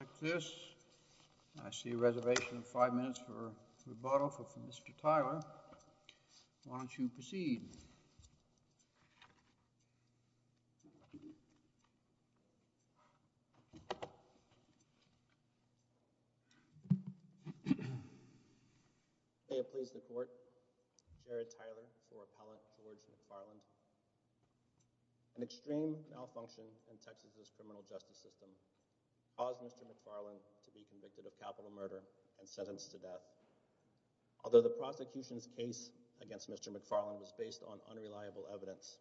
I am pleased to report Jared Tyler, your appellant towards McFarland, an extreme malfunction in Texas' criminal justice system. Although the prosecution's case against Mr. McFarland was based on unreliable evidence,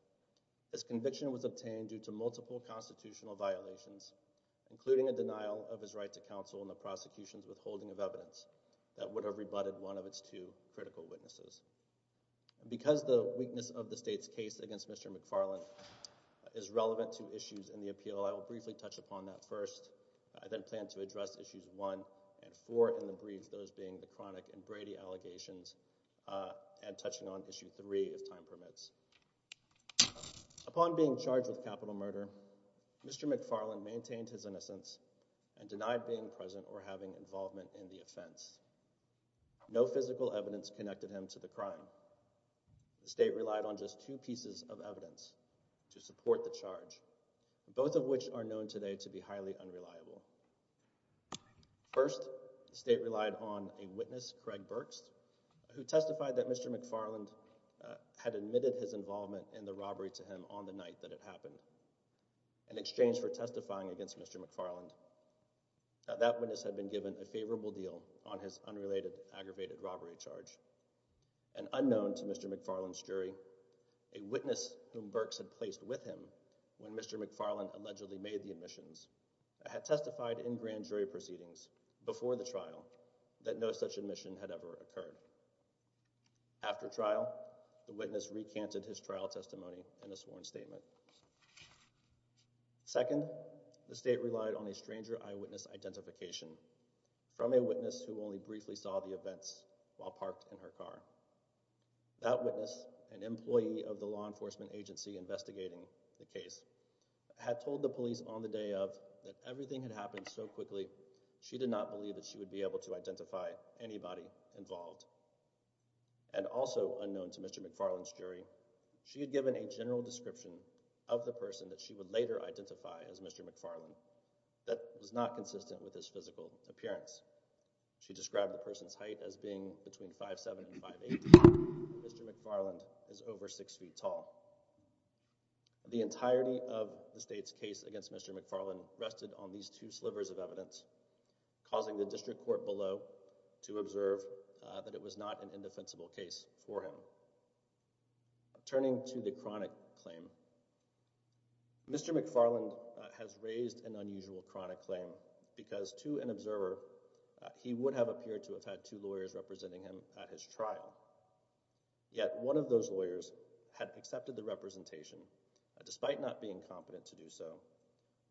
this conviction was obtained due to multiple constitutional violations, including a denial of his right to counsel in the prosecution's withholding of evidence that would have rebutted one of its two critical witnesses. Because the weakness of the state's case against Mr. McFarland is relevant to issues in the appeal, I will briefly touch upon that first. I then plan to address issues 1 and 4 in the brief, those being the chronic and Brady allegations, and touching on issue 3 if time permits. Upon being charged with capital murder, Mr. McFarland maintained his innocence and denied being present or having involvement in the offense. No physical evidence connected him to the crime. The state relied on just two pieces of evidence to support the charge. Both of which are known today to be highly unreliable. First, the state relied on a witness, Craig Burks, who testified that Mr. McFarland had admitted his involvement in the robbery to him on the night that it happened. In exchange for testifying against Mr. McFarland, that witness had been given a favorable deal on his unrelated aggravated robbery charge. An unknown to Mr. McFarland's jury, a witness whom Burks had placed with him when Mr. McFarland allegedly made the admissions, had testified in grand jury proceedings before the trial that no such admission had ever occurred. After trial, the witness recanted his trial testimony in a sworn statement. Second, the state relied on a stranger eyewitness identification from a witness who only briefly saw the events while parked in her car. That witness, an employee of the law enforcement agency investigating the case, had told the police on the day of that everything had happened so quickly she did not believe that she would be able to identify anybody involved. And also unknown to Mr. McFarland's jury, she had given a general description of the person that she would later identify as Mr. McFarland that was not consistent with his physical appearance. She described the person's height as being between 5'7 and 5'8 and Mr. McFarland is over 6 feet tall. The entirety of the state's case against Mr. McFarland rested on these two slivers of evidence, causing the district court below to observe that it was not an indefensible case for him. Turning to the chronic claim, Mr. McFarland has raised an unusual chronic claim because to an observer, he would have appeared to have had two lawyers representing him at his trial. Yet, one of those lawyers had accepted the representation despite not being competent to do so,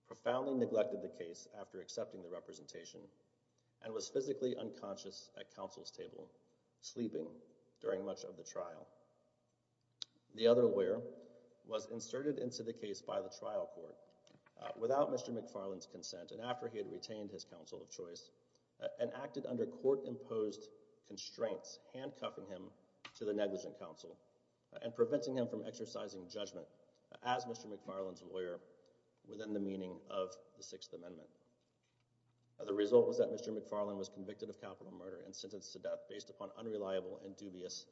profoundly neglected the case after accepting the representation, and was physically unconscious at counsel's table, sleeping during much of the trial. The other lawyer was inserted into the case by the trial court without Mr. McFarland's consent and after he had retained his counsel of choice and acted under court-imposed constraints, handcuffing him to the negligent counsel and preventing him from exercising judgment as Mr. McFarland's lawyer within the meaning of the Sixth Amendment. The result was that Mr. McFarland was convicted of capital murder and sentenced to death based upon unreliable and dubious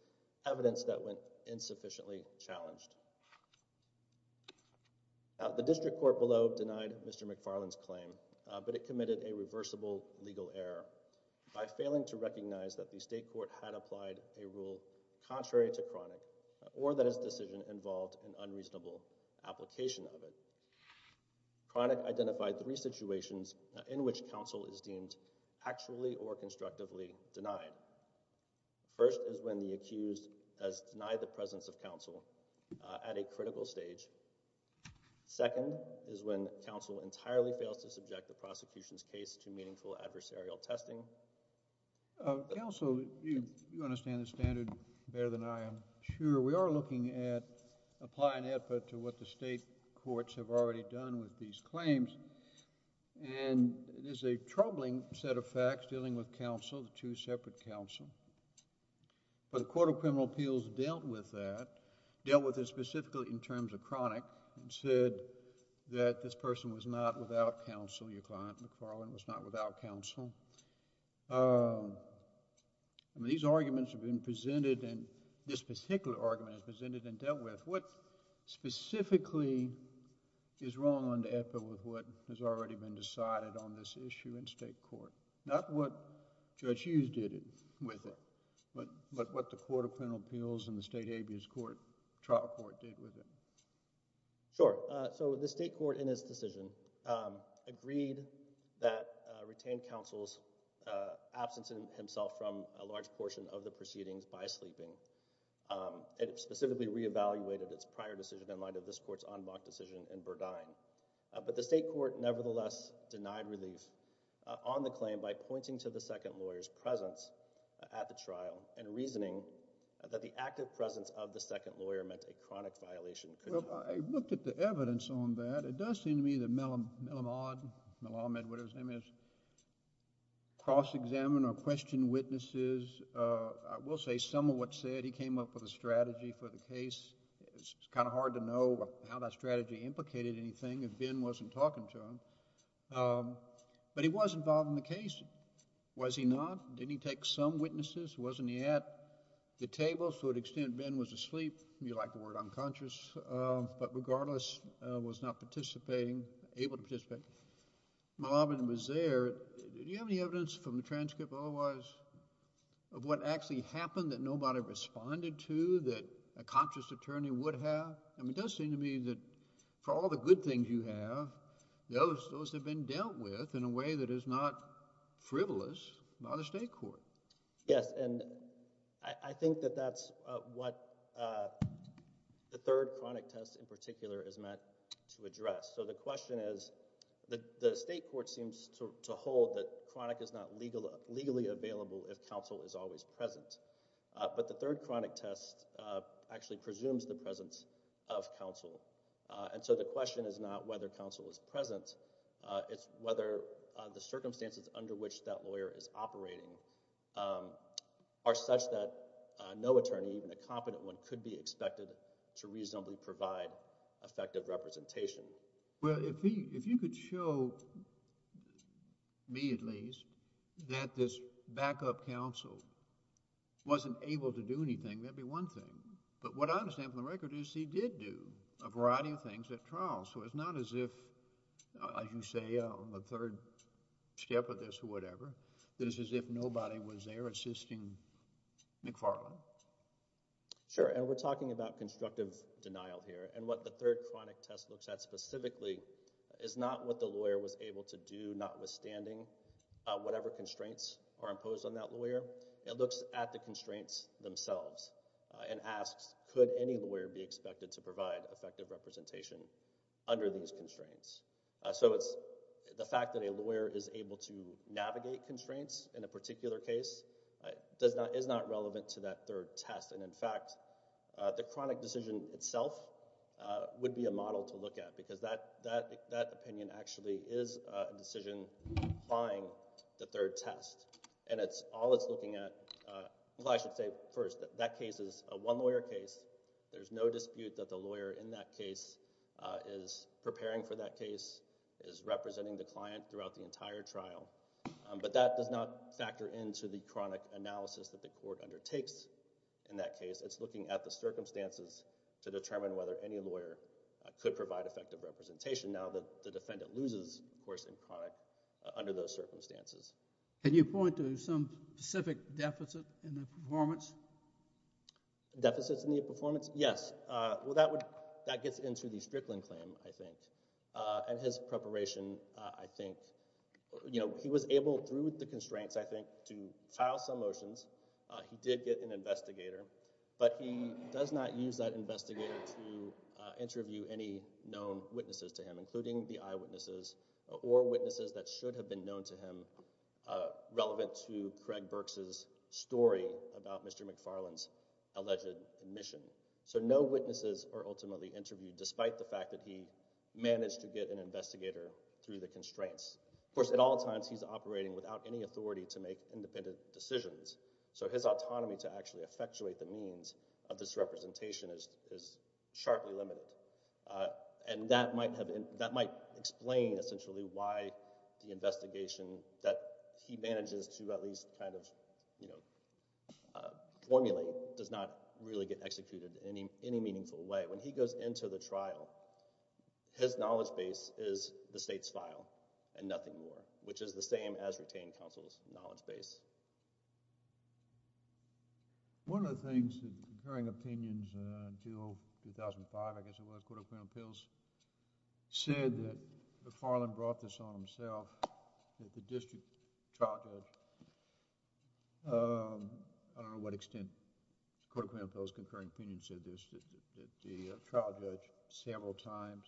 evidence that went insufficiently challenged. The district court below denied Mr. McFarland's claim, but it committed a reversible legal error by failing to recognize that the state court had applied a rule contrary to chronic or that his decision involved an unreasonable application of it. Chronic identified three situations in which counsel is deemed actually or constructively denied. First is when the accused has denied the presence of counsel at a critical stage. Second is when counsel entirely fails to subject the prosecution's case to meaningful adversarial testing. Counsel, you understand the standard better than I am sure. We are looking at applying effort to what the state courts have already done with these cases. The court of criminal appeals dealt with that, dealt with it specifically in terms of chronic and said that this person was not without counsel. Your client, McFarland, was not without counsel. These arguments have been presented and this particular argument is presented and dealt with. What specifically is wrong on the effort with what has already been decided on this issue in state court? Not what Judge Hughes did with it, but what the court of criminal appeals and the state habeas court trial court did with it. Sure. So the state court in its decision agreed that retained counsel's absence in himself from a large portion of the proceedings by sleeping. It specifically reevaluated its prior decision in light of this court's en bloc decision in Burdine. But the state court nevertheless denied relief on the claim by pointing to the second lawyer's presence at the trial and reasoning that the active presence of the second lawyer meant a chronic violation. Well, I looked at the evidence on that. It does seem to me that Mellon, Mellon, Mellon, whatever his name is, cross examined or questioned witnesses. I will say some of what said he came up with a strategy for the case. It's kind of hard to know how that strategy implicated anything if Ben wasn't talking to him. But he was involved in the case. Was he not? Did he take some witnesses? Wasn't he at the table to the extent Ben was asleep? You like the word unconscious, but regardless was not participating, able to participate. Mellon was there. Do you have any evidence from the transcript otherwise of what actually happened that nobody responded to that a conscious attorney would have? I mean, it does seem to me that for all the good things you have, those have been dealt with in a way that is not frivolous by the state court. Yes, and I think that that's what the third chronic test in particular is meant to address. So the question is, the state court seems to hold that chronic is not legally available if counsel is always present. But the third chronic test actually presumes the presence of counsel. And so the question is not whether counsel is present. It's whether the circumstances under which that lawyer is operating are such that no attorney, even a competent one, could be expected to reasonably provide effective representation. Well, if you could show me at least that this backup counsel wasn't able to do anything, that would be one thing. But what I understand from the record is he did do a variety of things at trial. So it's not as if, as you say, on the third step of this or whatever, that it's as if nobody was there assisting McFarland. Sure, and we're talking about constructive denial here. And what the third chronic test looks at specifically is not what the lawyer was able to do, notwithstanding whatever constraints are imposed on that lawyer. It looks at the constraints themselves and asks, could any lawyer be expected to provide effective representation under these constraints? So it's the fact that a lawyer is able to navigate constraints in a particular case is not relevant to that third test. And in fact, the chronic decision itself would be a model to look at, because that opinion actually is a decision applying the third test. And all it's looking at—well, I should say first that that case is a one-lawyer case. There's no dispute that the lawyer in that case is preparing for that case, is representing the client throughout the entire trial. But that does not factor into the chronic analysis that the court undertakes in that case. It's looking at the circumstances to determine whether any lawyer could provide effective representation. Now, the defendant loses, of course, in chronic under those circumstances. Can you point to some specific deficit in the performance? Deficits in the performance? Yes. Well, that gets into the Strickland claim, I think. And his preparation, I think—you know, he was able, through the constraints, I think, to file some motions. He did get an investigator. But he does not use that investigator to interview any known witnesses to him, including the eyewitnesses or witnesses that should have been known to him relevant to Craig Burks' story about Mr. McFarland's alleged omission. So no witnesses are ultimately interviewed, despite the fact that he managed to get an investigator through the constraints. Of course, at all times, he's operating without any authority to make independent decisions. So his autonomy to actually effectuate the means of this representation is sharply limited. And that might explain, essentially, why the investigation that he manages to at least kind of, you know, formulate does not really get executed in any meaningful way. When he goes into the trial, his knowledge base is the state's file and nothing more, which is the same as retained counsel's knowledge base. One of the things—occurring opinions until 2005, I guess it was, Court of Appellation said that McFarland brought this on himself as the district trial judge. I don't know what extent Court of Appellation's concurring opinion said this, that the trial judge several times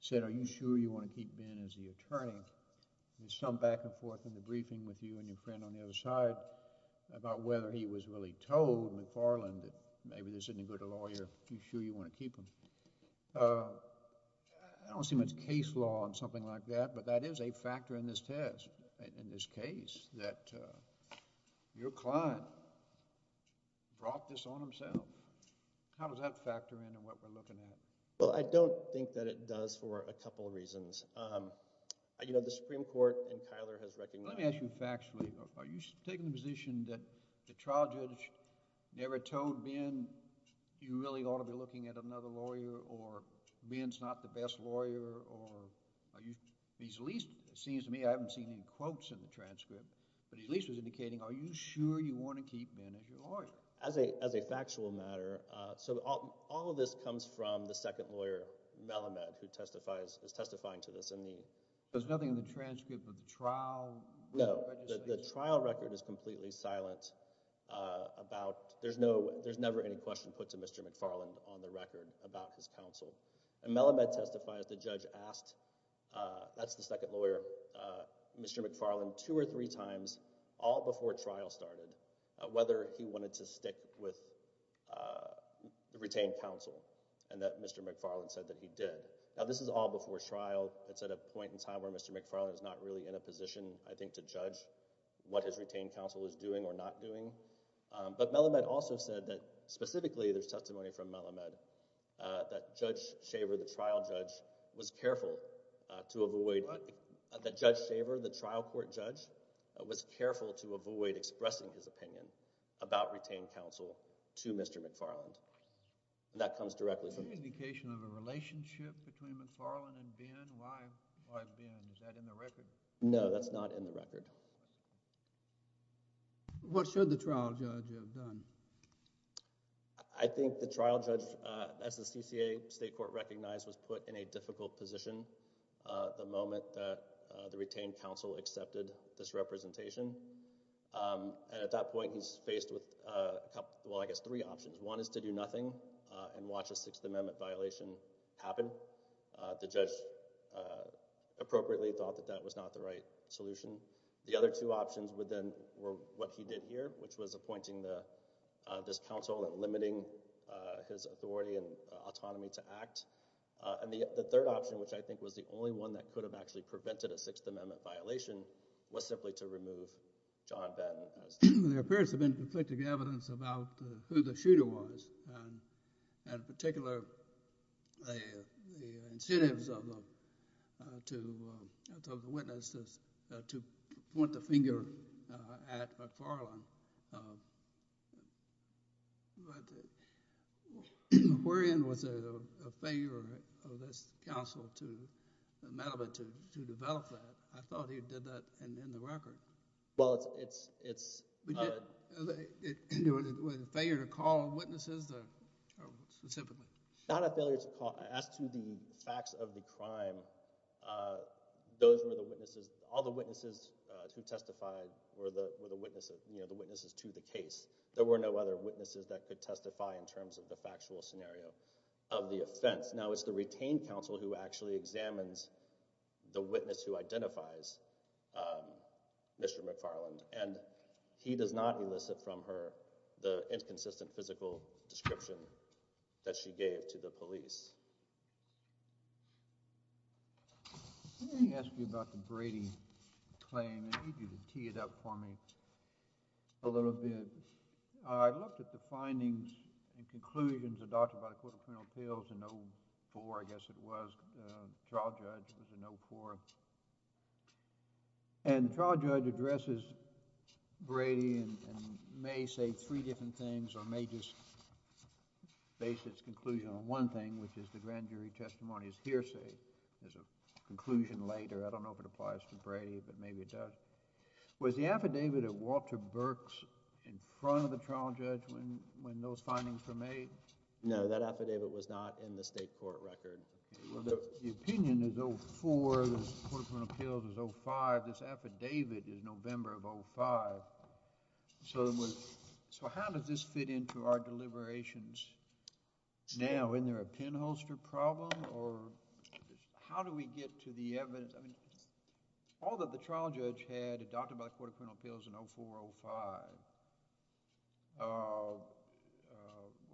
said, are you sure you want to keep Ben as the attorney? There's some back and forth in the briefing with you and your friend on the other side about whether he was really told, McFarland, that maybe this isn't a good lawyer. Are you sure you want to keep him? I don't see much case law on something like that, but that is a factor in this test, in this case, that your client brought this on himself. How does that factor into what we're looking at? Well, I don't think that it does for a couple of reasons. You know, the Supreme Court in Tyler has recognized— Let me ask you factually, are you taking the position that the trial judge never told Ben you really ought to be looking at another lawyer, or Ben's not the best lawyer, or at least it seems to me, I haven't seen any quotes in the transcript, but at least it was indicating, are you sure you want to keep Ben as your lawyer? As a factual matter, so all of this comes from the second lawyer, Melamed, who is testifying to this in the... There's nothing in the transcript of the trial... No, the trial record is completely silent about... There's never any question put to Mr. McFarland on the record about his counsel. Melamed testifies the judge asked—that's the second lawyer— Mr. McFarland two or three times, all before trial started, whether he wanted to stick with the retained counsel, and that Mr. McFarland said that he did. Now this is all before trial. It's at a point in time where Mr. McFarland is not really in a position, I think, to judge what his retained counsel is doing or not doing, but Melamed also said that specifically, there's testimony from Melamed, that Judge Shaver, the trial judge, was careful to avoid... What? That Judge Shaver, the trial court judge, was careful to avoid expressing his opinion about retained counsel to Mr. McFarland, and that comes directly from... Is there some indication of a relationship between McFarland and Ben? Why Ben? Is that in the record? No, that's not in the record. What should the trial judge have done? I think the trial judge, as the CCA state court recognized, was put in a difficult position the moment the retained counsel accepted this representation, and at that point he's faced with, well, I guess, three options. One is to do nothing and watch a Sixth Amendment violation happen. The judge appropriately thought that that was not the right solution. The other two options then were what he did here, which was appointing this counsel and limiting his authority and autonomy to act. And the third option, which I think was the only one that could have actually prevented a Sixth Amendment violation, was simply to remove John Ben. There appears to have been conflicting evidence about who the shooter was and, in particular, the incentives of the witness to point the finger at McFarland. Aquarian was a failure of this counsel to develop that. I thought he did that in the record. Well, it's... Was it a failure to call witnesses specifically? Not a failure to call. As to the facts of the crime, those were the witnesses. All the witnesses who testified were the witnesses to the case. There were no other witnesses that could testify in terms of the factual scenario of the offense. Now it's the retained counsel who actually examines the witness who identifies Mr. McFarland, and he does not elicit from her the inconsistent physical description that she gave to the police. Let me ask you about the Brady claim. I need you to tee it up for me a little bit. I looked at the findings and conclusions adopted by the Court of Criminal Appeals in 2004, I guess it was. The trial judge was in 2004. And the trial judge addresses Brady and may say three different things or may just base its conclusion on one thing, which is the grand jury testimony's hearsay. There's a conclusion later. I don't know if it applies to Brady, but maybe it does. Was the affidavit of Walter Burks in front of the trial judge when those findings were made? No, that affidavit was not in the state court record. The opinion is 04. The Court of Criminal Appeals is 05. This affidavit is November of 05. So how does this fit into our deliberations now? Isn't there a pinholster problem? How do we get to the evidence? All that the trial judge had adopted by the Court of Criminal Appeals in 04, 05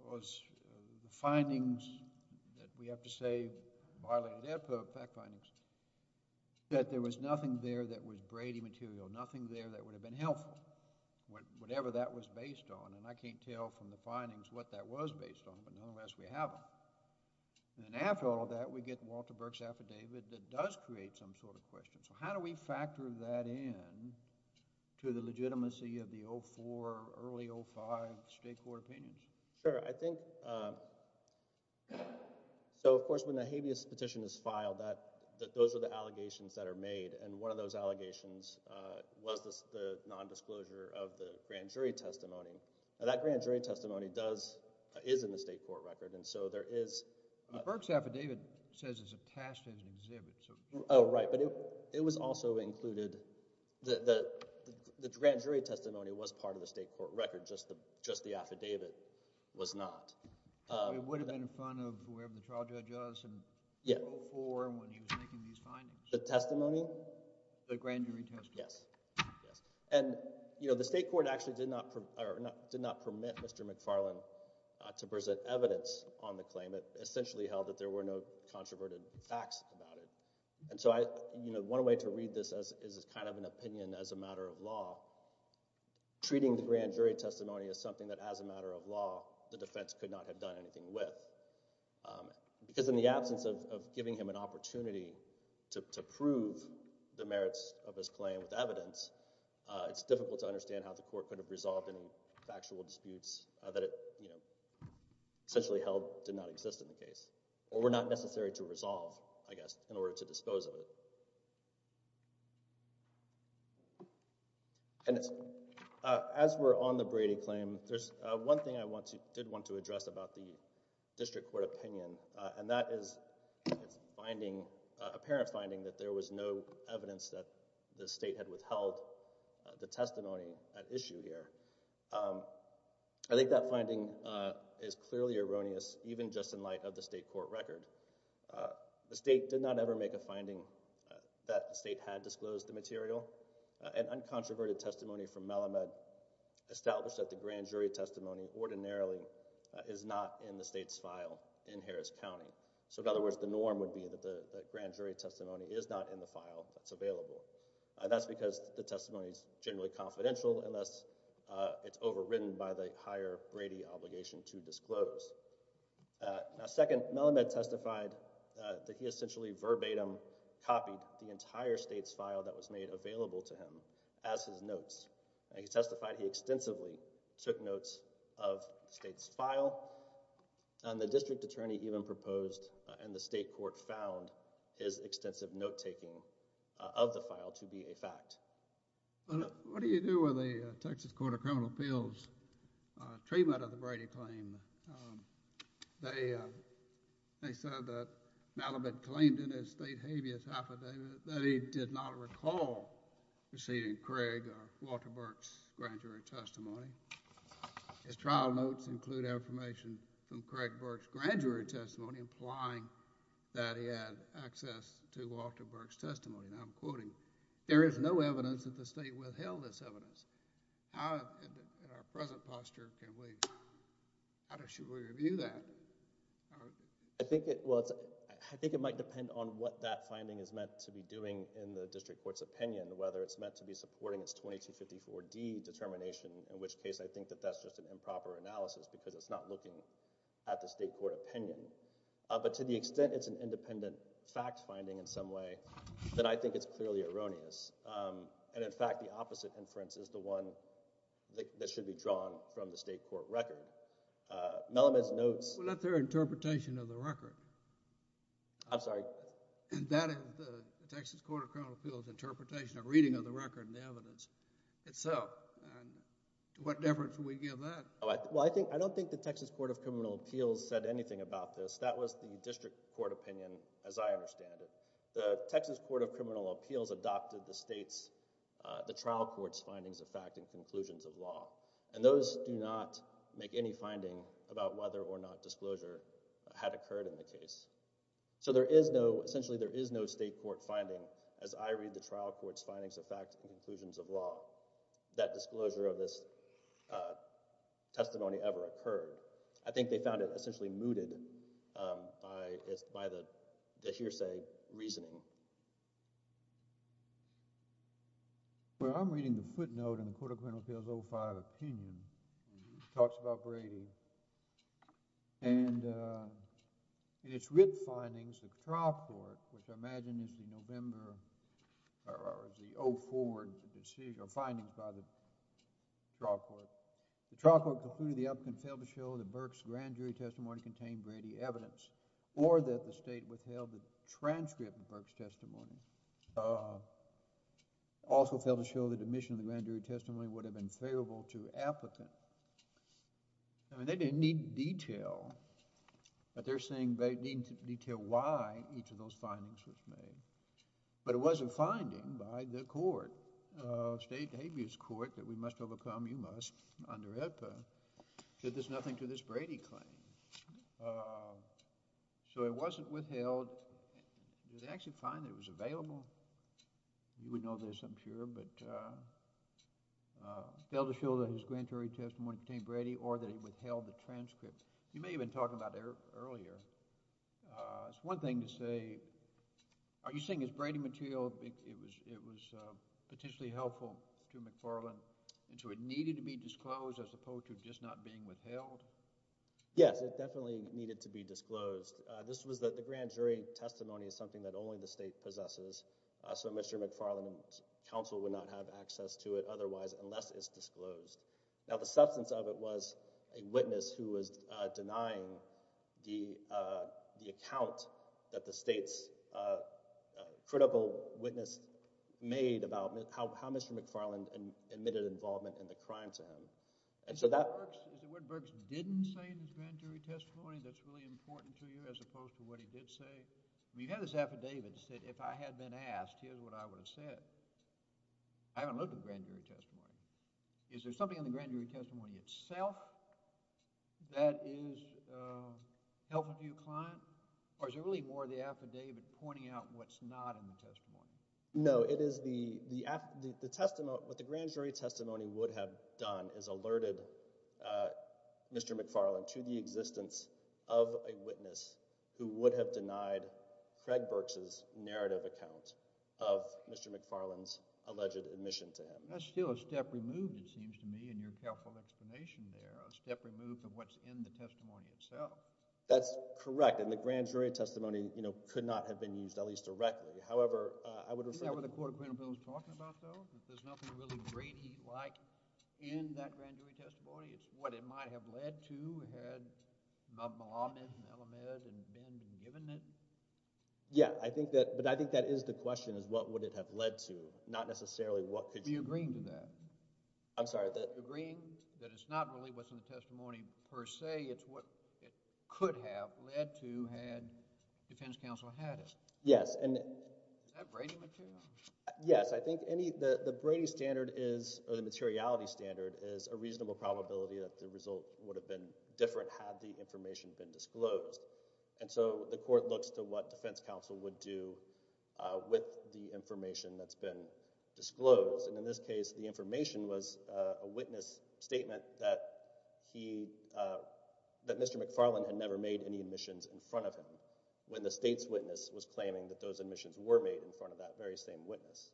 was the findings that we have to say violated their fact findings, that there was nothing there that was Brady material, nothing there that would have been helpful, whatever that was based on. And I can't tell from the findings what that was based on, but nonetheless we have them. And after all that, we get Walter Burks' affidavit that does create some sort of question. So how do we factor that in to the legitimacy of the 04, early 05 state court opinions? Sure, I think, so of course when the habeas petition is filed, those are the allegations that are made, and one of those allegations was the nondisclosure of the grand jury testimony. That grand jury testimony does, is in the state court record, and so there is... Burks' affidavit says it's a past tense exhibit, so... Oh, right, but it was also included, the grand jury testimony was part of the state court record, just the affidavit was not. It would have been in front of whoever the trial judge was in 04 when he was making these findings. The testimony? The grand jury testimony. Yes, yes. And, you know, the state court actually did not permit Mr. McFarlane to present evidence on the claim. It essentially held that there were no controverted facts about it. And so I, you know, one way to read this is as kind of an opinion as a matter of law. Treating the grand jury testimony as something that as a matter of law, the defense could not have done anything with. Because in the absence of giving him an opportunity to prove the merits of his claim with evidence, it's difficult to understand how the court could have resolved any factual disputes that it, you know, essentially held did not exist in the case, or were not necessary to resolve, I guess, in order to dispose of it. And as we're on the Brady claim, there's one thing I want to, did want to address about the district court opinion. And that is its finding, apparent finding that there was no evidence that the state had withheld the testimony at issue here. I think that finding is clearly erroneous, even just in light of the state court record. The state did not ever make a finding that the state had disclosed the material. An uncontroverted testimony from Melamed established that the grand jury testimony ordinarily is not in the state's file in Harris County. So in other words, the norm would be that the grand jury testimony is not in the file that's available. And that's because the testimony is generally confidential unless it's overridden by the higher Brady obligation to disclose. Now second, Melamed testified that he essentially verbatim copied the entire state's file that was made available to him as his notes. And he testified he extensively took notes of the state's file. And the district attorney even proposed, and the state court found, his extensive note-taking of the file to be a fact. What do you do with a Texas Court of Criminal Appeals treatment of the Brady claim? They said that Melamed claimed in his state habeas affidavit that he did not recall receiving Craig or Walter Burke's grand jury testimony. His trial notes include information from Craig Burke's grand jury testimony implying that he had access to Walter Burke's testimony. And I'm quoting, there is no evidence that the state withheld this evidence. In our present posture, how should we review that? I think it might depend on what that finding is meant to be doing in the district court's opinion, whether it's meant to be supporting its 2254D determination, in which case I think that that's just an improper analysis because it's not looking at the state court opinion. But to the extent it's an independent fact-finding in some way, then I think it's clearly erroneous. And in fact, the opposite inference is the one that should be drawn from the state court record. Melamed's notes— Well, that's their interpretation of the record. I'm sorry? That is the Texas Court of Criminal Appeals interpretation of reading of the record and the evidence itself. What difference would we give that? Well, I don't think the Texas Court of Criminal Appeals said anything about this. That was the district court opinion as I understand it. The Texas Court of Criminal Appeals adopted the trial court's findings of fact and conclusions of law. And those do not make any finding about whether or not disclosure had occurred in the case. So there is no—essentially there is no state court finding as I read the trial court's findings of fact and conclusions of law that disclosure of this testimony ever occurred. I think they found it essentially mooted by the hearsay reasoning. Well, I'm reading the footnote in the Court of Criminal Appeals 05 opinion. It talks about Brady. And in its writ findings, the trial court, which I imagine is the November—or the 04 finding by the trial court, the trial court concluded the applicant failed to show that Burke's grand jury testimony contained Brady evidence or that the state withheld the transcript of Burke's testimony. Also failed to show that admission of the grand jury testimony would have been favorable to applicants. I mean, they didn't need detail, but they're saying they need detail why each of those findings was made. But it was a finding by the court, state habeas court that we must overcome, you must, under EPA, that there's nothing to this Brady claim. So it wasn't withheld. It was actually a finding that was available. You would know this, I'm sure. But failed to show that his grand jury testimony contained Brady or that he withheld the transcript. You may have been talking about it earlier. It's one thing to say, are you saying his Brady material, it was potentially helpful to McFarland, and so it needed to be disclosed as opposed to just not being withheld? Yes, it definitely needed to be disclosed. This was that the grand jury testimony is something that only the state possesses. So Mr. McFarland's counsel would not have access to it otherwise unless it's disclosed. Now, the substance of it was a witness who was denying the account that the state's critical witness made about how Mr. McFarland admitted involvement in the crime to him. Mr. Woodburgs didn't say in his grand jury testimony that's really important to you as opposed to what he did say? You have this affidavit that said if I had been asked, here's what I would have said. I haven't looked at the grand jury testimony. Is there something in the grand jury testimony itself that is helpful to your client? Or is it really more the affidavit pointing out what's not in the testimony? No, it is the, what the grand jury testimony would have done is alerted Mr. McFarland to the existence of a witness who would have denied Craig Burks' narrative account of Mr. McFarland's alleged admission to him. That's still a step removed, it seems to me, in your careful explanation there. A step removed from what's in the testimony itself. That's correct. And the grand jury testimony, you know, could not have been used, at least directly. However, I would refer— Isn't that what the Court of Apprentice Bill is talking about, though? That there's nothing really Brady-like in that grand jury testimony? It's what it might have led to had Melamed and Elamed and Benden given it? Yeah, I think that, but I think that is the question, is what would it have led to? Not necessarily what could you— Are you agreeing with that? I'm sorry, that— Agreeing that it's not really what's in the testimony per se. It's what it could have led to had defense counsel had it. Yes, and— Is that Brady material? Yes. I think any—the Brady standard is, or the materiality standard, is a reasonable probability that the result would have been different had the information been disclosed. And so the court looks to what defense counsel would do with the information that's been disclosed. And in this case, the information was a witness statement that he— that Mr. McFarland had never made any admissions in front of him when the state's witness was claiming that those admissions were made in front of that very same witness.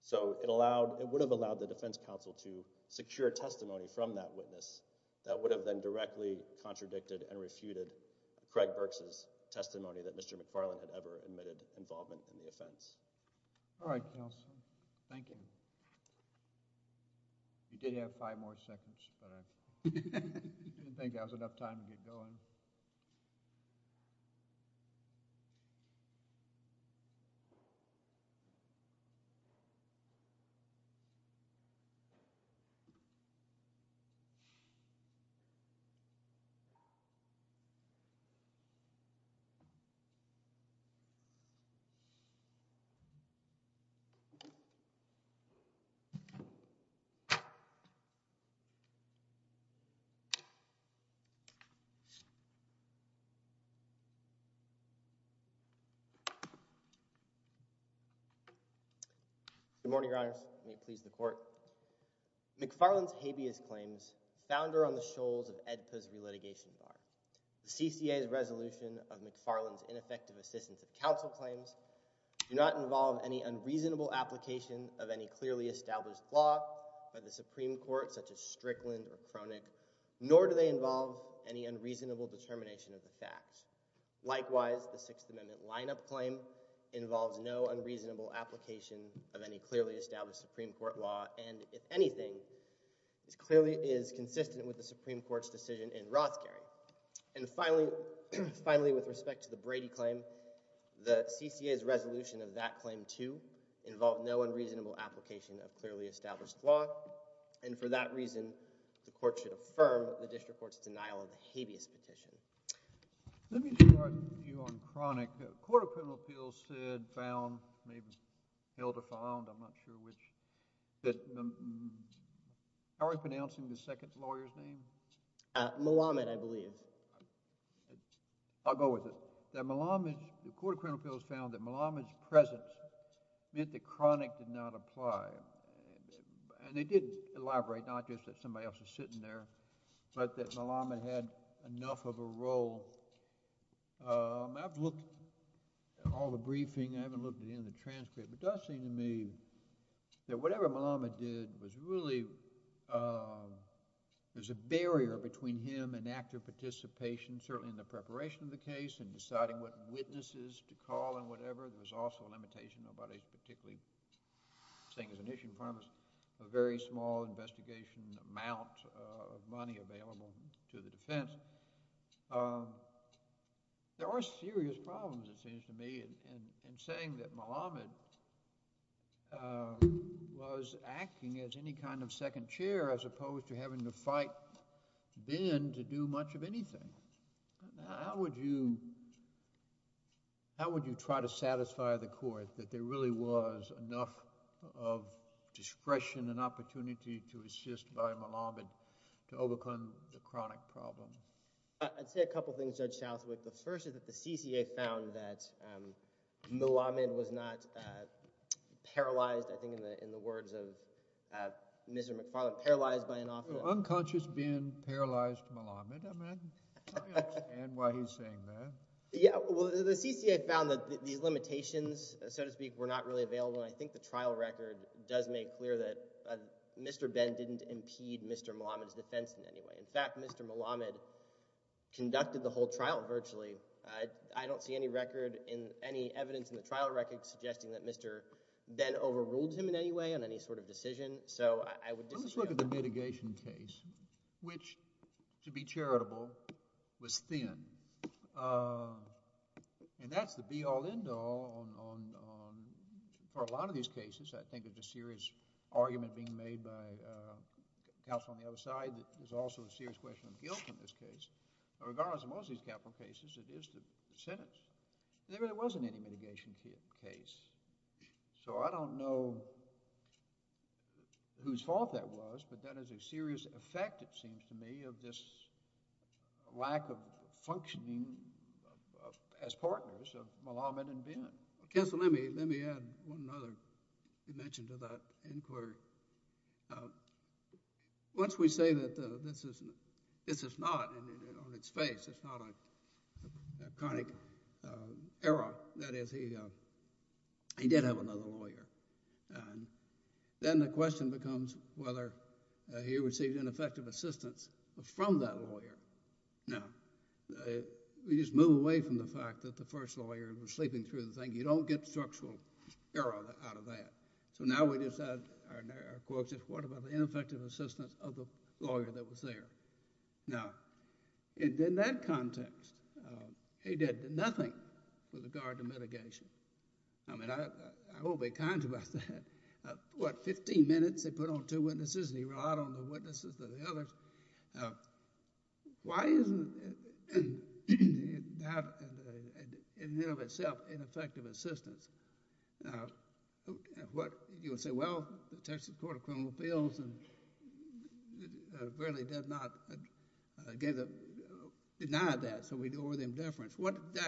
So it allowed—it would have allowed the defense counsel to secure testimony from that witness that would have then directly contradicted and refuted Craig Burks' testimony that Mr. McFarland had ever admitted involvement in the offense. All right, counsel. Thank you. You did have five more seconds, but I didn't think that was enough time to get going. Good morning, Your Honors. May it please the Court. McFarland's habeas claims, the founder on the shoals of Ed Pizzoli litigation bar, the CCA's resolution of McFarland's ineffective assistance of counsel claims, do not involve any unreasonable application of any claims. Likewise, the Sixth Amendment lineup claim involves no unreasonable application of any clearly established Supreme Court law and, if anything, clearly is consistent with the Supreme Court's decision in Rothkering. And finally, with respect to the Brady claim, involve no unreasonable application of clearly established law and, for that reason, the Court should affirm the district court's denial of the habeas petition. Let me start you on chronic. The Court of Criminal Appeals said, found, maybe held or found, I'm not sure which, that—how are we pronouncing the second lawyer's name? Malamud, I believe. I'll go with it. That Malamud, the Court of Criminal Appeals found that Malamud's presence meant that chronic did not apply. And they did elaborate, not just that somebody else was sitting there, but that Malamud had enough of a role. I've looked at all the briefing. I haven't looked at any of the transcript, but it does seem to me that whatever Malamud did was really, there's a barrier between him and active participation, certainly in the preparation of the case and deciding what witnesses to call and whatever. There's also a limitation about a particularly, I'm saying as an issue economist, a very small investigation amount of money available to the defense. There are serious problems, it seems to me, in saying that Malamud was acting as any kind of second chair as opposed to having to fight Ben to do much of anything. How would you try to satisfy the court that there really was enough of discretion and opportunity to assist by Malamud to overcome the chronic problem? I'd say a couple things, Judge Southwick. The first is that the CCA found that Malamud was not paralyzed, I think in the words of Mr. McFarland, paralyzed by an officer. Unconscious Ben paralyzed Malamud. I understand why he's saying that. Yeah, well, the CCA found that these limitations, so to speak, were not really available, and I think the trial record does make clear that Mr. Ben didn't impede Mr. Malamud's defense in any way. In fact, Mr. Malamud conducted the whole trial virtually. I don't see any record in any evidence in the trial record suggesting that Mr. Ben overruled him in any way on any sort of decision. So I would disagree on that. Let's look at the mitigation case, which, to be charitable, was thin. And that's the be-all, end-all for a lot of these cases. I think it's a serious argument being made by counsel on the other side that there's also a serious question of guilt in this case. Regardless of most of these capital cases, it is the sentence. There really wasn't any mitigation case. So I don't know whose fault that was, but that is a serious effect, it seems to me, of this lack of functioning as partners of Malamud and Ben. Counsel, let me add one other dimension to that inquiry. Once we say that this is not on its face, it's not a chronic error. That is, he did have another lawyer. Then the question becomes whether he received ineffective assistance from that lawyer. Now, we just move away from the fact that the first lawyer was sleeping through the thing. You don't get structural error out of that. So now we just add our quote, what about the ineffective assistance of the lawyer that was there? Now, in that context, he did nothing with regard to mitigation. I mean, I won't be kind about that. What, 15 minutes, they put on two witnesses, and he relied on the witnesses of the others. Why isn't that, in and of itself, ineffective assistance? You would say, well, the Texas Court of Criminal Appeals really did not deny that, so we do it with indifference. What did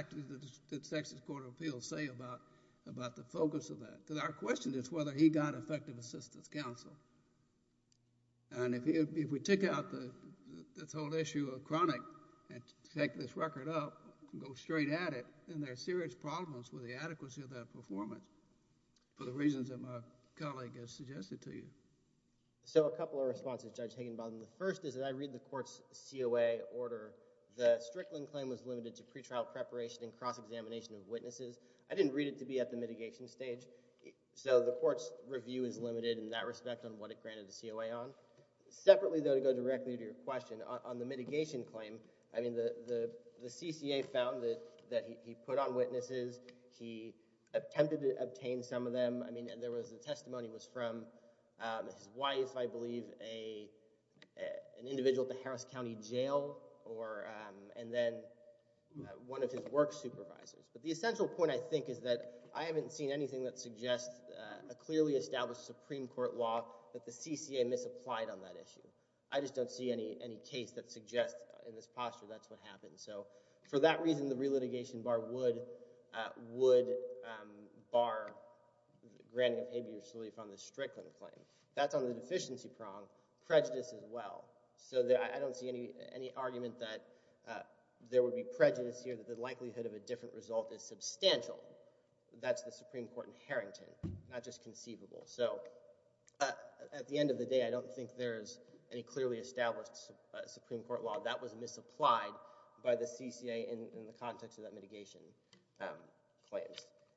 the Texas Court of Appeals say about the focus of that? Because our question is whether he got effective assistance, counsel. And if we take out this whole issue of chronic and take this record up, go straight at it, then there are serious problems with the adequacy of that performance for the reasons that my colleague has suggested to you. So a couple of responses, Judge Higginbotham. The first is that I read the court's COA order. The Strickland claim was limited to pretrial preparation and cross-examination of witnesses. I didn't read it to be at the mitigation stage, so the court's review is limited in that respect on what it granted the COA on. Separately, though, to go directly to your question, on the mitigation claim, I mean, the CCA found that he put on witnesses, he attempted to obtain some of them. I mean, the testimony was from his wife, I believe, an individual at the Harris County Jail, and then one of his work supervisors. But the essential point, I think, is that I haven't seen anything that suggests a clearly established Supreme Court law that the CCA misapplied on that issue. I just don't see any case that suggests in this posture that's what happened. So, for that reason, the relitigation bar would bar granting of abuse relief on the Strickland claim. That's on the deficiency prong. Prejudice as well. So I don't see any argument that there would be prejudice here, that the likelihood of a different result is substantial. That's the Supreme Court in Harrington, not just conceivable. So, at the end of the day, I don't think there's any clearly established Supreme Court law that was misapplied by the CCA in the context of that mitigation claim.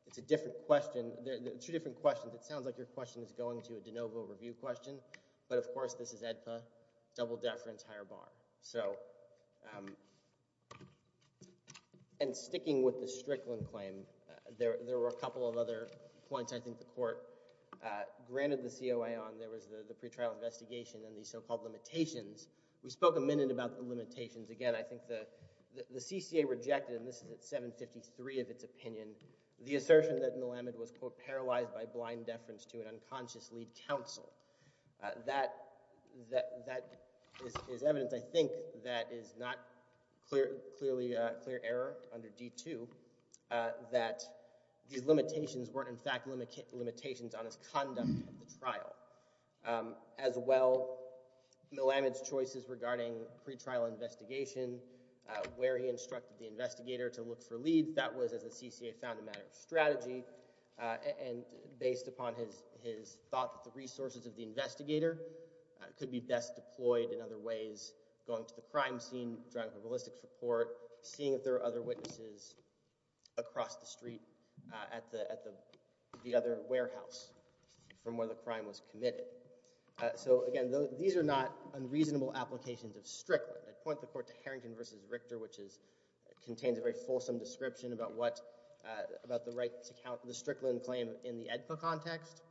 It's a different question. Two different questions. It sounds like your question is going to a de novo review question, but, of course, this is AEDPA, double deference, higher bar. So, and sticking with the Strickland claim, there were a couple of other points I think the court granted the COA on. There was the pretrial investigation and the so-called limitations. We spoke a minute about the limitations. Again, I think the CCA rejected, and this is at 753 of its opinion, the assertion that Millam had been paralyzed by blind deference to an unconscious lead counsel. That is evidence, I think, that is not clear error under D2, that the limitations weren't, in fact, limitations on his conduct at the trial. As well, Millam's choices regarding pretrial investigation, where he instructed the investigator to look for leads, that was, as the CCA found, a matter of strategy, and based upon his thought that the resources of the investigator could be best deployed in other ways, going to the crime scene, driving for ballistics report, seeing if there are other witnesses across the street at the other warehouse from where the crime was committed. So, again, these are not unreasonable applications of Strickland. I'd point the court to Harrington v. Richter, which contains a very fulsome description about what, about the right to counsel, the Strickland claim in the AEDPA context.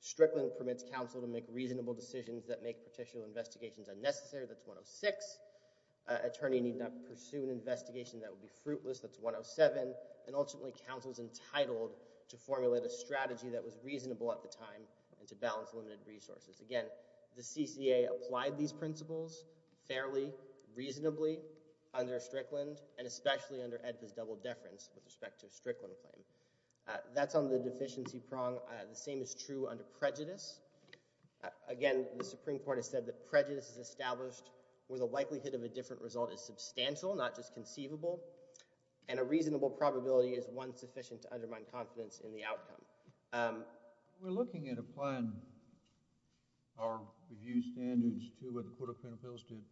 Strickland permits counsel to make reasonable decisions that make pretrial investigations unnecessary. That's 106. Attorney need not pursue an investigation that would be fruitless. That's 107. And, ultimately, counsel's entitled to formulate a strategy that was reasonable at the time and to balance limited resources. Again, the CCA applied these principles fairly, reasonably, under Strickland, and especially under AEDPA's double deference with respect to a Strickland claim. That's on the deficiency prong. The same is true under prejudice. Again, the Supreme Court has said that prejudice is established where the likelihood of a different result is substantial, not just conceivable, and a reasonable probability is one sufficient to undermine confidence in the outcome. We're looking at applying our review standards to what the Court of Appeals did.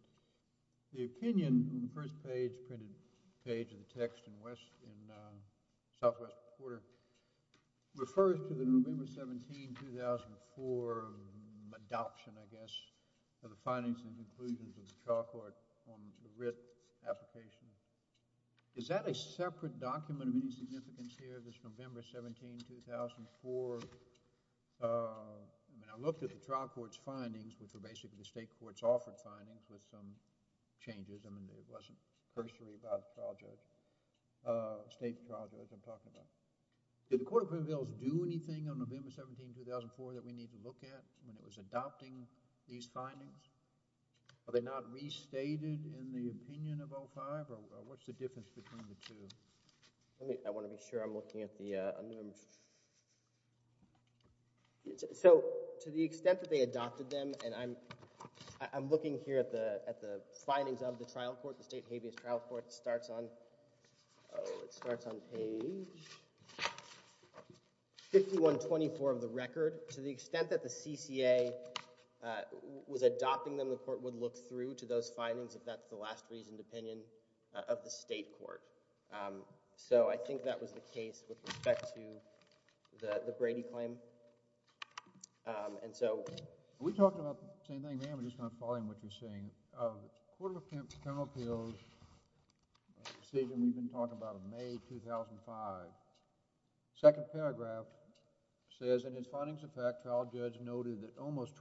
The opinion from the first page, printed page, in the text in southwest quarter, refers to the November 17, 2004 adoption, I guess, of the findings and conclusions of the trial court on the writ application. Is that a separate document of any significance here, this November 17, 2004? I mean, I looked at the trial court's findings, which were basically the state court's offered findings, with some changes. I mean, there wasn't cursory trial judge, state trial judge I'm talking about. Did the Court of Appeals do anything on November 17, 2004 that we need to look at when it was adopting these findings? Are they not restated in the opinion of O5, or what's the difference between the two? I want to be sure I'm looking at the— So, to the extent that they adopted them, I'm looking here at the findings of the trial court. The state habeas trial court starts on page 5124 of the record. To the extent that the CCA was adopting them, the court would look through to those findings, if that's the last reasoned opinion of the state court. So, I think that was the case with respect to the Brady claim. And so— We talked about the same thing, ma'am. I'm just going to follow in what you're saying. The Court of Appeals decision we've been talking about of May 2005. The second paragraph says, in its findings of fact, trial judge noted that almost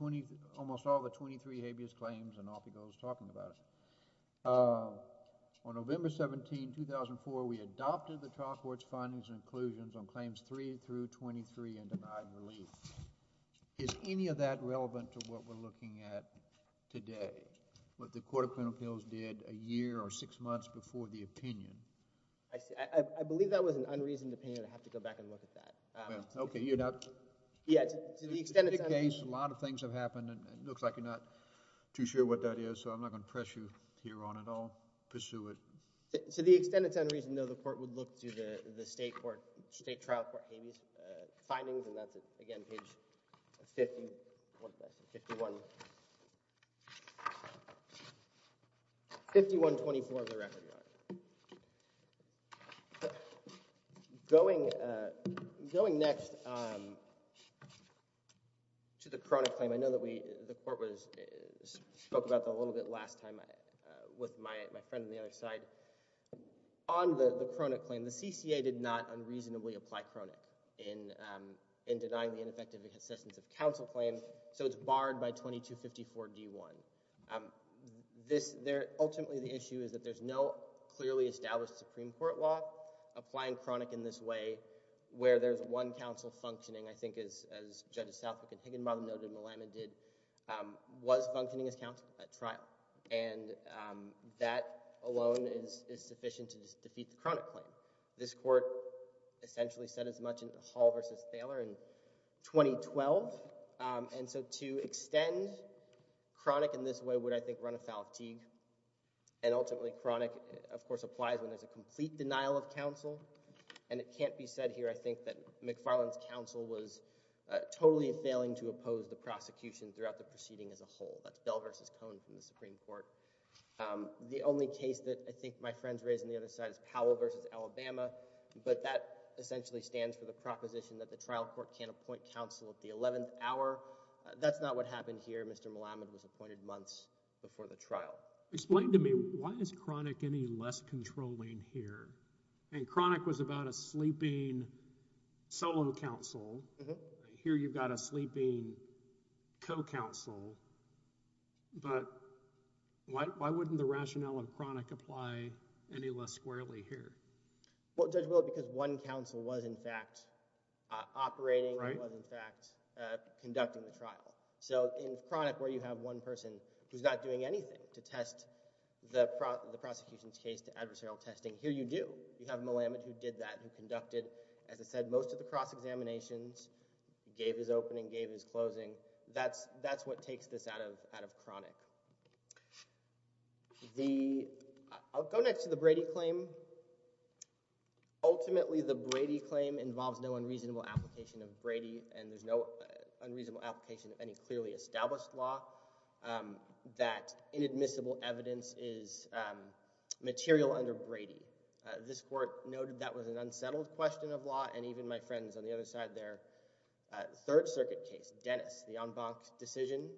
all the 23 habeas claims and all people I was talking about. On November 17, 2004, we adopted the trial court's findings and conclusions on claims 3 through 23 and denied relief. Is any of that relevant to what we're looking at today, what the Court of Appeals did a year or six months before the opinion? I believe that was an unreasoned opinion. I'd have to go back and look at that. Okay, you're not— Yeah, to the extent it's— It's a big case. A lot of things have happened. It looks like you're not too sure what that is, so I'm not going to press you here on it. I'll pursue it. To the extent it's unreasoned, I know the court would look to the state trial court findings, and that's, again, page 51— 51— 5124 of the record. Going next to the chronic claim, I know that the court spoke about that a little bit last time with my friend on the other side. On the chronic claim, the CCA did not unreasonably apply chronic in denying the ineffective existence of counsel claims, so it's barred by 2254d1. Ultimately, the issue is that there's no clearly established Supreme Court law applying chronic in this way where there's one counsel functioning, I think, as Judge Southwick and Higginbotham noted, Malamud did, was functioning as counsel at trial, and that alone is sufficient to defeat the chronic claim. This court essentially said as much in Hall v. Thaler in 2012, and so to extend chronic in this way would, I think, run afoul of Teague, and ultimately chronic, of course, applies when there's a complete denial of counsel, and it can't be said here, I think, that McFarland's counsel was totally failing to oppose the prosecution throughout the proceeding as a whole. That's Bell v. Cohn from the Supreme Court. The only case that I think my friend's raised on the other side is Powell v. Alabama, but that essentially stands for the proposition that the trial court can't appoint counsel at the 11th hour. That's not what happened here. Mr. Malamud was appointed months before the trial. Explain to me, why is chronic any less controlling here? And chronic was about a sleeping solo counsel. Here you've got a sleeping co-counsel, but why wouldn't the rationale of chronic apply any less squarely here? Well, Judge Willett, because one counsel was, in fact, operating, was, in fact, conducting the trial. So in chronic where you have one person who's not doing anything to test the prosecution's case to adversarial testing, here you do. You have Malamud who did that, who conducted, as I said, most of the cross-examinations, gave his opening, gave his closing. That's what takes this out of chronic. I'll go next to the Brady claim. Ultimately, the Brady claim involves no unreasonable application of Brady, and there's no unreasonable application of any clearly established law that inadmissible evidence is material under Brady. This court noted that was an unsettled question of law, and even my friends on the other side there, the Third Circuit case, Dennis, the en banc decision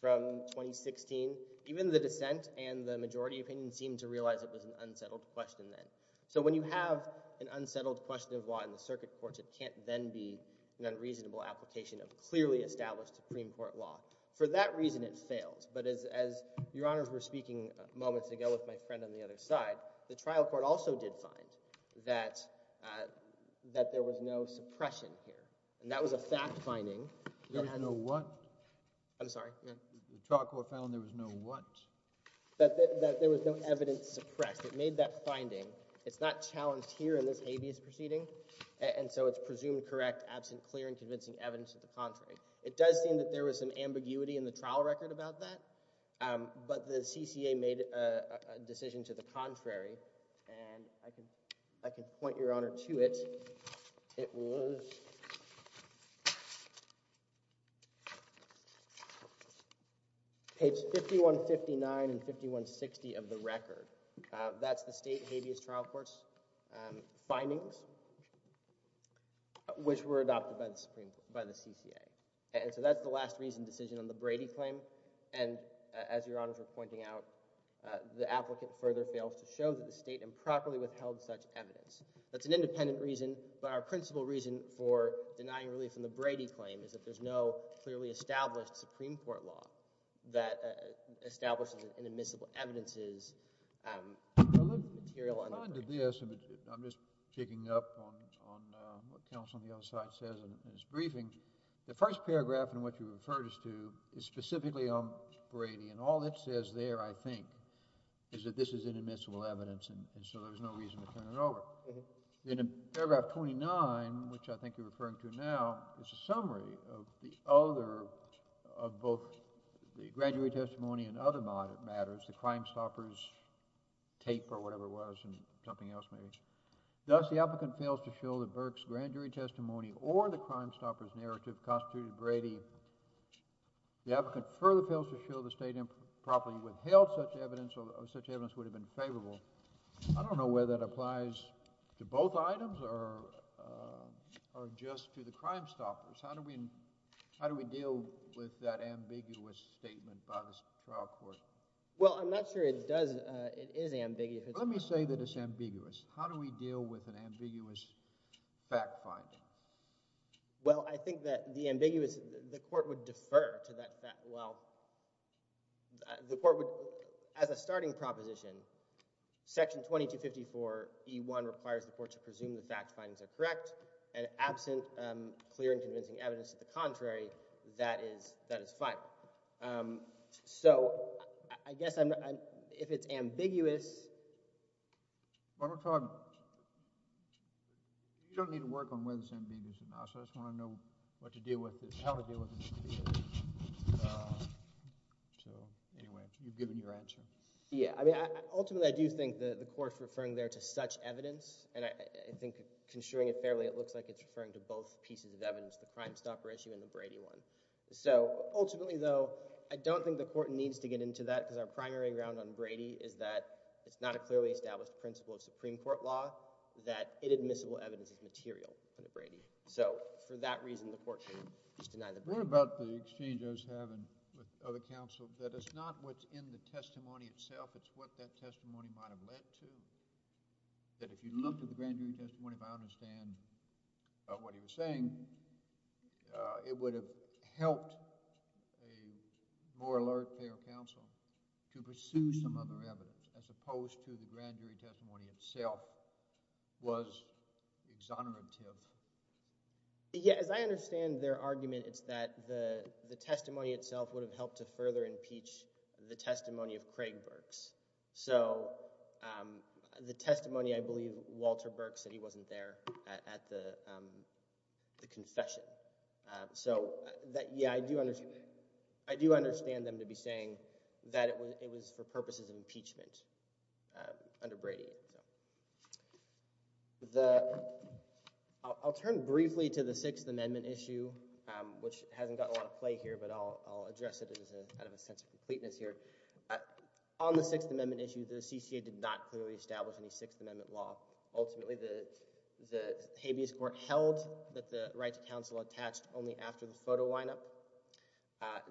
from 2016, even the dissent and the majority opinion seemed to realize it was an unsettled question then. So when you have an unsettled question of law in the circuit courts, it can't then be an unreasonable application of clearly established Supreme Court law. For that reason, it fails, but as Your Honors were speaking moments ago with my friend on the other side, the trial court also did find that there was no suppression here, and that was a fact finding. There was no what? I'm sorry? The trial court found there was no what? That there was no evidence suppressed. It made that finding. It's not challenged here in this habeas proceeding, and so it's presumed correct, absent, clear, and convincing evidence of the contrary. It does seem that there was some ambiguity in the trial record about that, but the CCA made a decision to the contrary, and I can point Your Honor to it. It was page 5159 and 5160 of the record. That's the state habeas trial court's findings, which were adopted by the CCA, and so that's the last reason decision on the Brady claim, and as Your Honors are pointing out, the applicant further fails to show that the state improperly withheld such evidence. That's an independent reason, but our principal reason for denying relief on the Brady claim is that there's no clearly established Supreme Court law that establishes in admissible evidences material on that. I'm just picking up on what counsel on the other side says in his briefing. The first paragraph in what you referred us to is specifically on Brady, and all it says there, I think, is that this is inadmissible evidence, and so there's no reason to turn it over. In paragraph 29, which I think you're referring to now, is a summary of both the grand jury testimony and other matters, the Crimestoppers tape or whatever it was, and something else maybe. Thus, the applicant fails to show that Burke's grand jury testimony or the Crimestoppers narrative constituted Brady. The applicant further fails to show the state improperly withheld such evidence or such evidence would have been favorable. I don't know whether that applies to both items or just to the Crimestoppers. How do we deal with that ambiguous statement by the trial court? Well, I'm not sure it is ambiguous. Let me say that it's ambiguous. How do we deal with an ambiguous fact finding? Well, I think that the ambiguous, the court would defer to that. Well, the court would, as a starting proposition, section 2254E1 requires the court to presume the fact findings are correct, and absent clear and convincing evidence of the contrary, that is fine. So I guess if it's ambiguous... I'm going to talk... You don't need to work on whether it's ambiguous or not. I just want to know how to deal with it. So anyway, you've given your answer. Yeah, I mean, ultimately, I do think the court's referring there to such evidence, and I think construing it fairly, it looks like it's referring to both pieces of evidence, the Crimestopper issue and the Brady one. So ultimately, though, I don't think the court needs to get into that, because our primary ground on Brady is that it's not a clearly established principle of Supreme Court law that inadmissible evidence is material for the Brady. So for that reason, the court should just deny the Brady. What about the exchange I was having with other counsel that it's not what's in the testimony itself, it's what that testimony might have led to, that if you looked at the grand jury testimony, if I understand what he was saying, it would have helped a more alert, fair counsel to pursue some other evidence, as opposed to the grand jury testimony itself was exonerative. Yeah, as I understand their argument, it's that the testimony itself would have helped to further impeach the testimony of Craig Burks. So the testimony, I believe, Walter Burks said he wasn't there at the confession. So yeah, I do understand them to be saying that it was for purposes of impeachment under Brady. I'll turn briefly to the Sixth Amendment issue, which hasn't got a lot of play here, but I'll address it as a sense of completeness here. On the Sixth Amendment issue, the CCA did not clearly establish any Sixth Amendment law. Ultimately, the habeas court held that the right to counsel attached only after the photo lineup.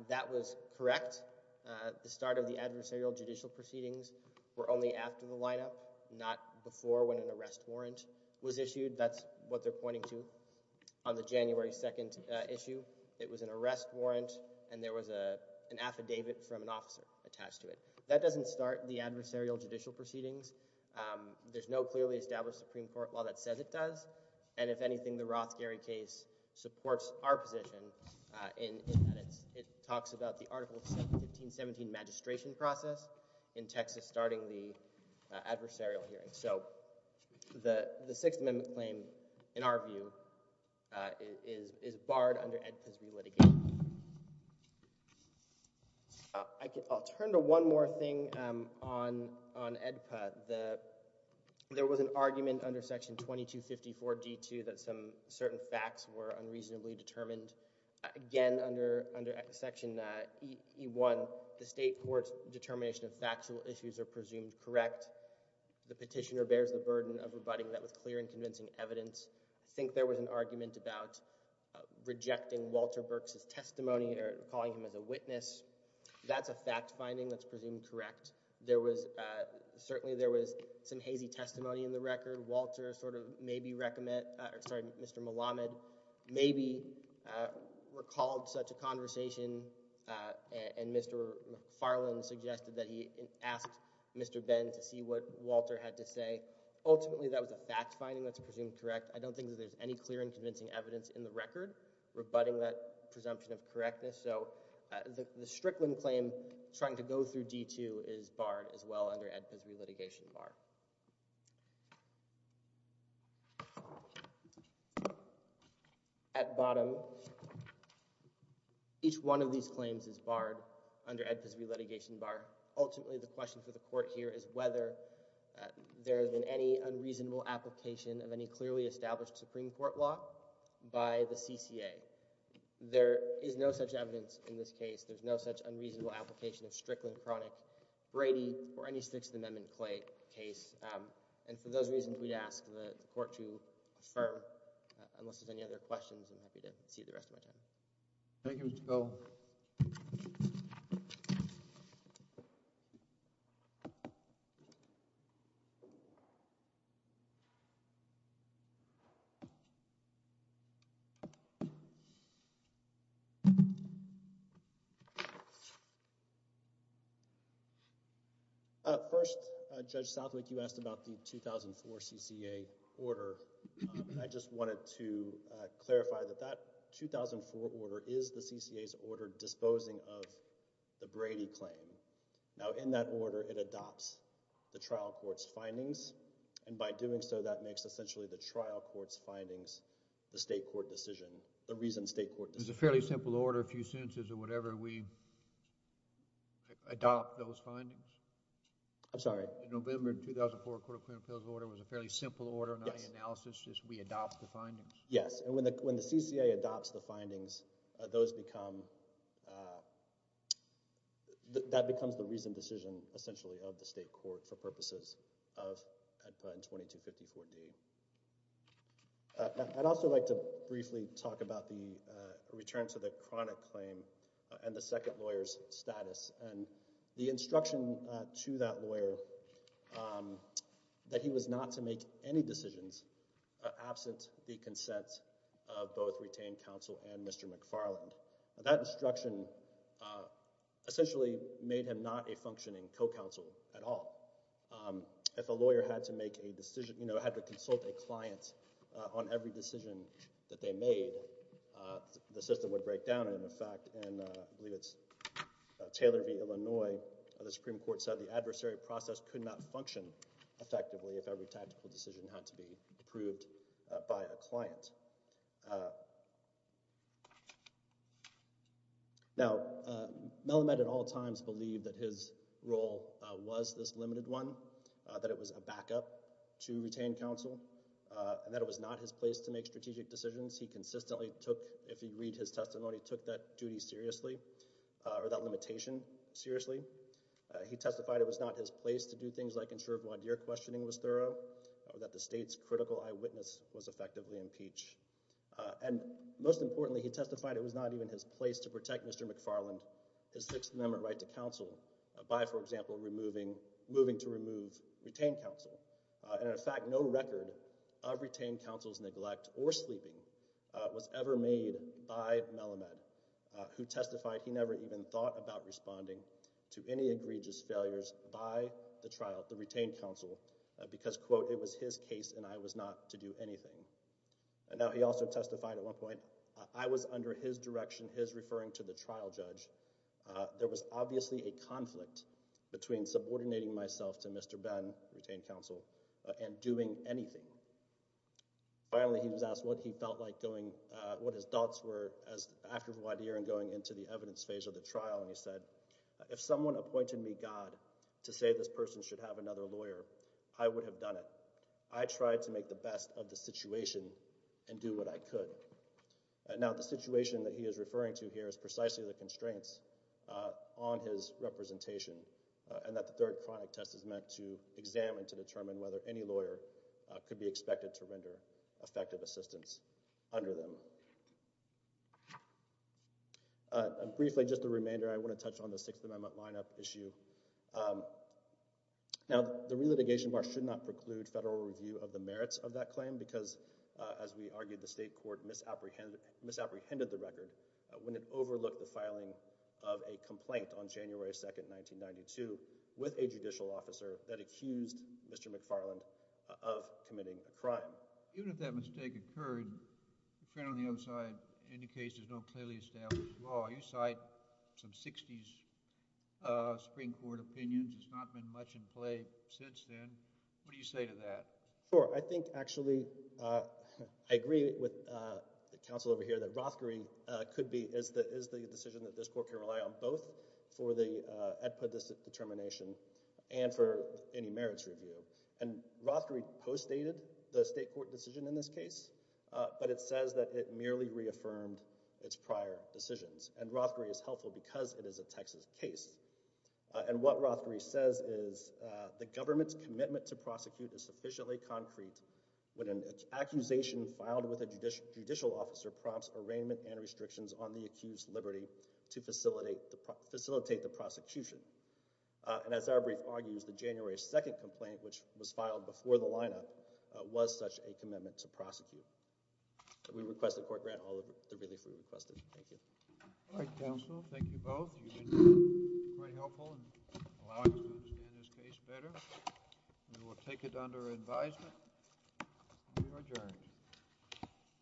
That was correct. The start of the adversarial judicial proceedings were only after the lineup, not before when an arrest warrant was issued. That's what they're pointing to. On the January 2nd issue, it was an arrest warrant, and there was an affidavit from an officer attached to it. That doesn't start the adversarial judicial proceedings. There's no clearly established Supreme Court law that says it does, and if anything, the Roth Gary case supports our position in that it talks about the Article 1517 magistration process in Texas starting the adversarial hearing. So the Sixth Amendment claim, in our view, is barred under AEDPA's new litigation. I'll turn to one more thing on AEDPA. There was an argument under Section 2254 D.2 that certain facts were unreasonably determined. Again, under Section E.1, the state court's determination of factual issues are presumed correct. The petitioner bears the burden of rebutting that with clear and convincing evidence. I think there was an argument about rejecting Walter Berks' testimony or calling him as a witness. That's a fact-finding that's presumed correct. Certainly, there was some hazy testimony in the record. Walter sort of maybe recommend... Sorry, Mr. Malamed maybe recalled such a conversation, and Mr. Farland suggested that he asked Mr. Ben to see what Walter had to say. Ultimately, that was a fact-finding that's presumed correct. I don't think that there's any clear and convincing evidence in the record rebutting that presumption of correctness. So the Strickland claim, trying to go through D.2, is barred as well under Ed Pizzoli Litigation Bar. At bottom, each one of these claims is barred under Ed Pizzoli Litigation Bar. Ultimately, the question for the court here is whether there has been any unreasonable application of any clearly established Supreme Court law by the CCA. There is no such evidence in this case. There's no such unreasonable application of Strickland, Cronick, Brady, or any Sixth Amendment case. And for those reasons, we'd ask the court to affirm. Unless there's any other questions, I'm happy to see the rest of my time. Thank you, Mr. Cole. First, Judge Southwick, you asked about the 2004 CCA order. I just wanted to clarify that that 2004 order is the CCA's order disposing of the Brady claim. Now, in that order, it adopts the trial court's findings, and by doing so, that makes essentially the trial court's findings the state court decision, the reason state court decision. It's a fairly simple order. A few sentences or whatever, we adopt those findings. I'm sorry. In November 2004, the Court of Criminal Appeals order was a fairly simple order, not any analysis, just we adopt the findings. Yes, and when the CCA adopts the findings, those become... that becomes the reason decision, essentially, of the state court for purposes of 2254D. I'd also like to briefly talk about the return to the chronic claim and the second lawyer's status, and the instruction to that lawyer that he was not to make any decisions absent the consent of both retained counsel and Mr. McFarland. That instruction essentially made him not a functioning co-counsel at all. you know, had to consult a client on every decision that they made, the system would break down in effect, and I believe it's Taylor v. Illinois, the Supreme Court said the adversary process could not function effectively if every tactical decision had to be approved by a client. Now, Melamed at all times believed that his role was this limited one, that it was a backup to retained counsel, and that it was not his place to make strategic decisions. He consistently took, if you read his testimony, he took that duty seriously, or that limitation seriously. He testified it was not his place to do things like ensure Blondier questioning was thorough, or that the state's critical eyewitness was effectively impeached. And most importantly, he testified it was not even his place to protect Mr. McFarland, his Sixth Amendment right to counsel, by, for example, removing... moving to remove retained counsel. In fact, no record of retained counsel's neglect or sleeping was ever made by Melamed, who testified he never even thought about responding to any egregious failures by the trial, the retained counsel, because, quote, it was his case and I was not to do anything. Now, he also testified at one point, I was under his direction, his referring to the trial judge. There was obviously a conflict between subordinating myself to Mr. Ben, the retained counsel, and doing anything. Finally, he was asked what he felt like going... what his thoughts were after Blondier and going into the evidence phase of the trial, and he said, if someone appointed me, God, to say this person should have another lawyer, I would have done it. I tried to make the best of the situation and do what I could. Now, the situation that he is referring to here is precisely the constraints on his representation and that the third chronic test is meant to examine, to determine whether any lawyer could be expected to render effective assistance under them. Briefly, just a remainder, I want to touch on the Sixth Amendment line-up issue. Now, the re-litigation bar should not preclude federal review of the merits of that claim because, as we argued, the state court misapprehended the record when it overlooked the filing of a complaint on January 2nd, 1992 with a judicial officer that accused Mr. McFarland of committing a crime. Even if that mistake occurred, the print on the other side indicates there's no clearly established law. You cite some 60s Supreme Court opinions. There's not been much in play since then. What do you say to that? Sure. I think, actually, I agree with the counsel over here that Rothkering could be, is the decision that this court can rely on both for the EDPA determination and for any merits review. And Rothkering postdated the state court decision in this case, but it says that it merely reaffirmed its prior decisions. And Rothkering is helpful because it is a Texas case. And what Rothkering says is, the government's commitment to prosecute is sufficiently concrete when an accusation filed with a judicial officer prompts arraignment and restrictions on the accused's liberty to facilitate the prosecution. And as our brief argues, the January 2nd complaint, which was filed before the lineup, was such a commitment to prosecute. We request the court grant all of the relief we requested. Thank you. All right, counsel. Thank you both. You've been quite helpful in allowing us to understand this case better. We will take it under advisement. We are adjourned.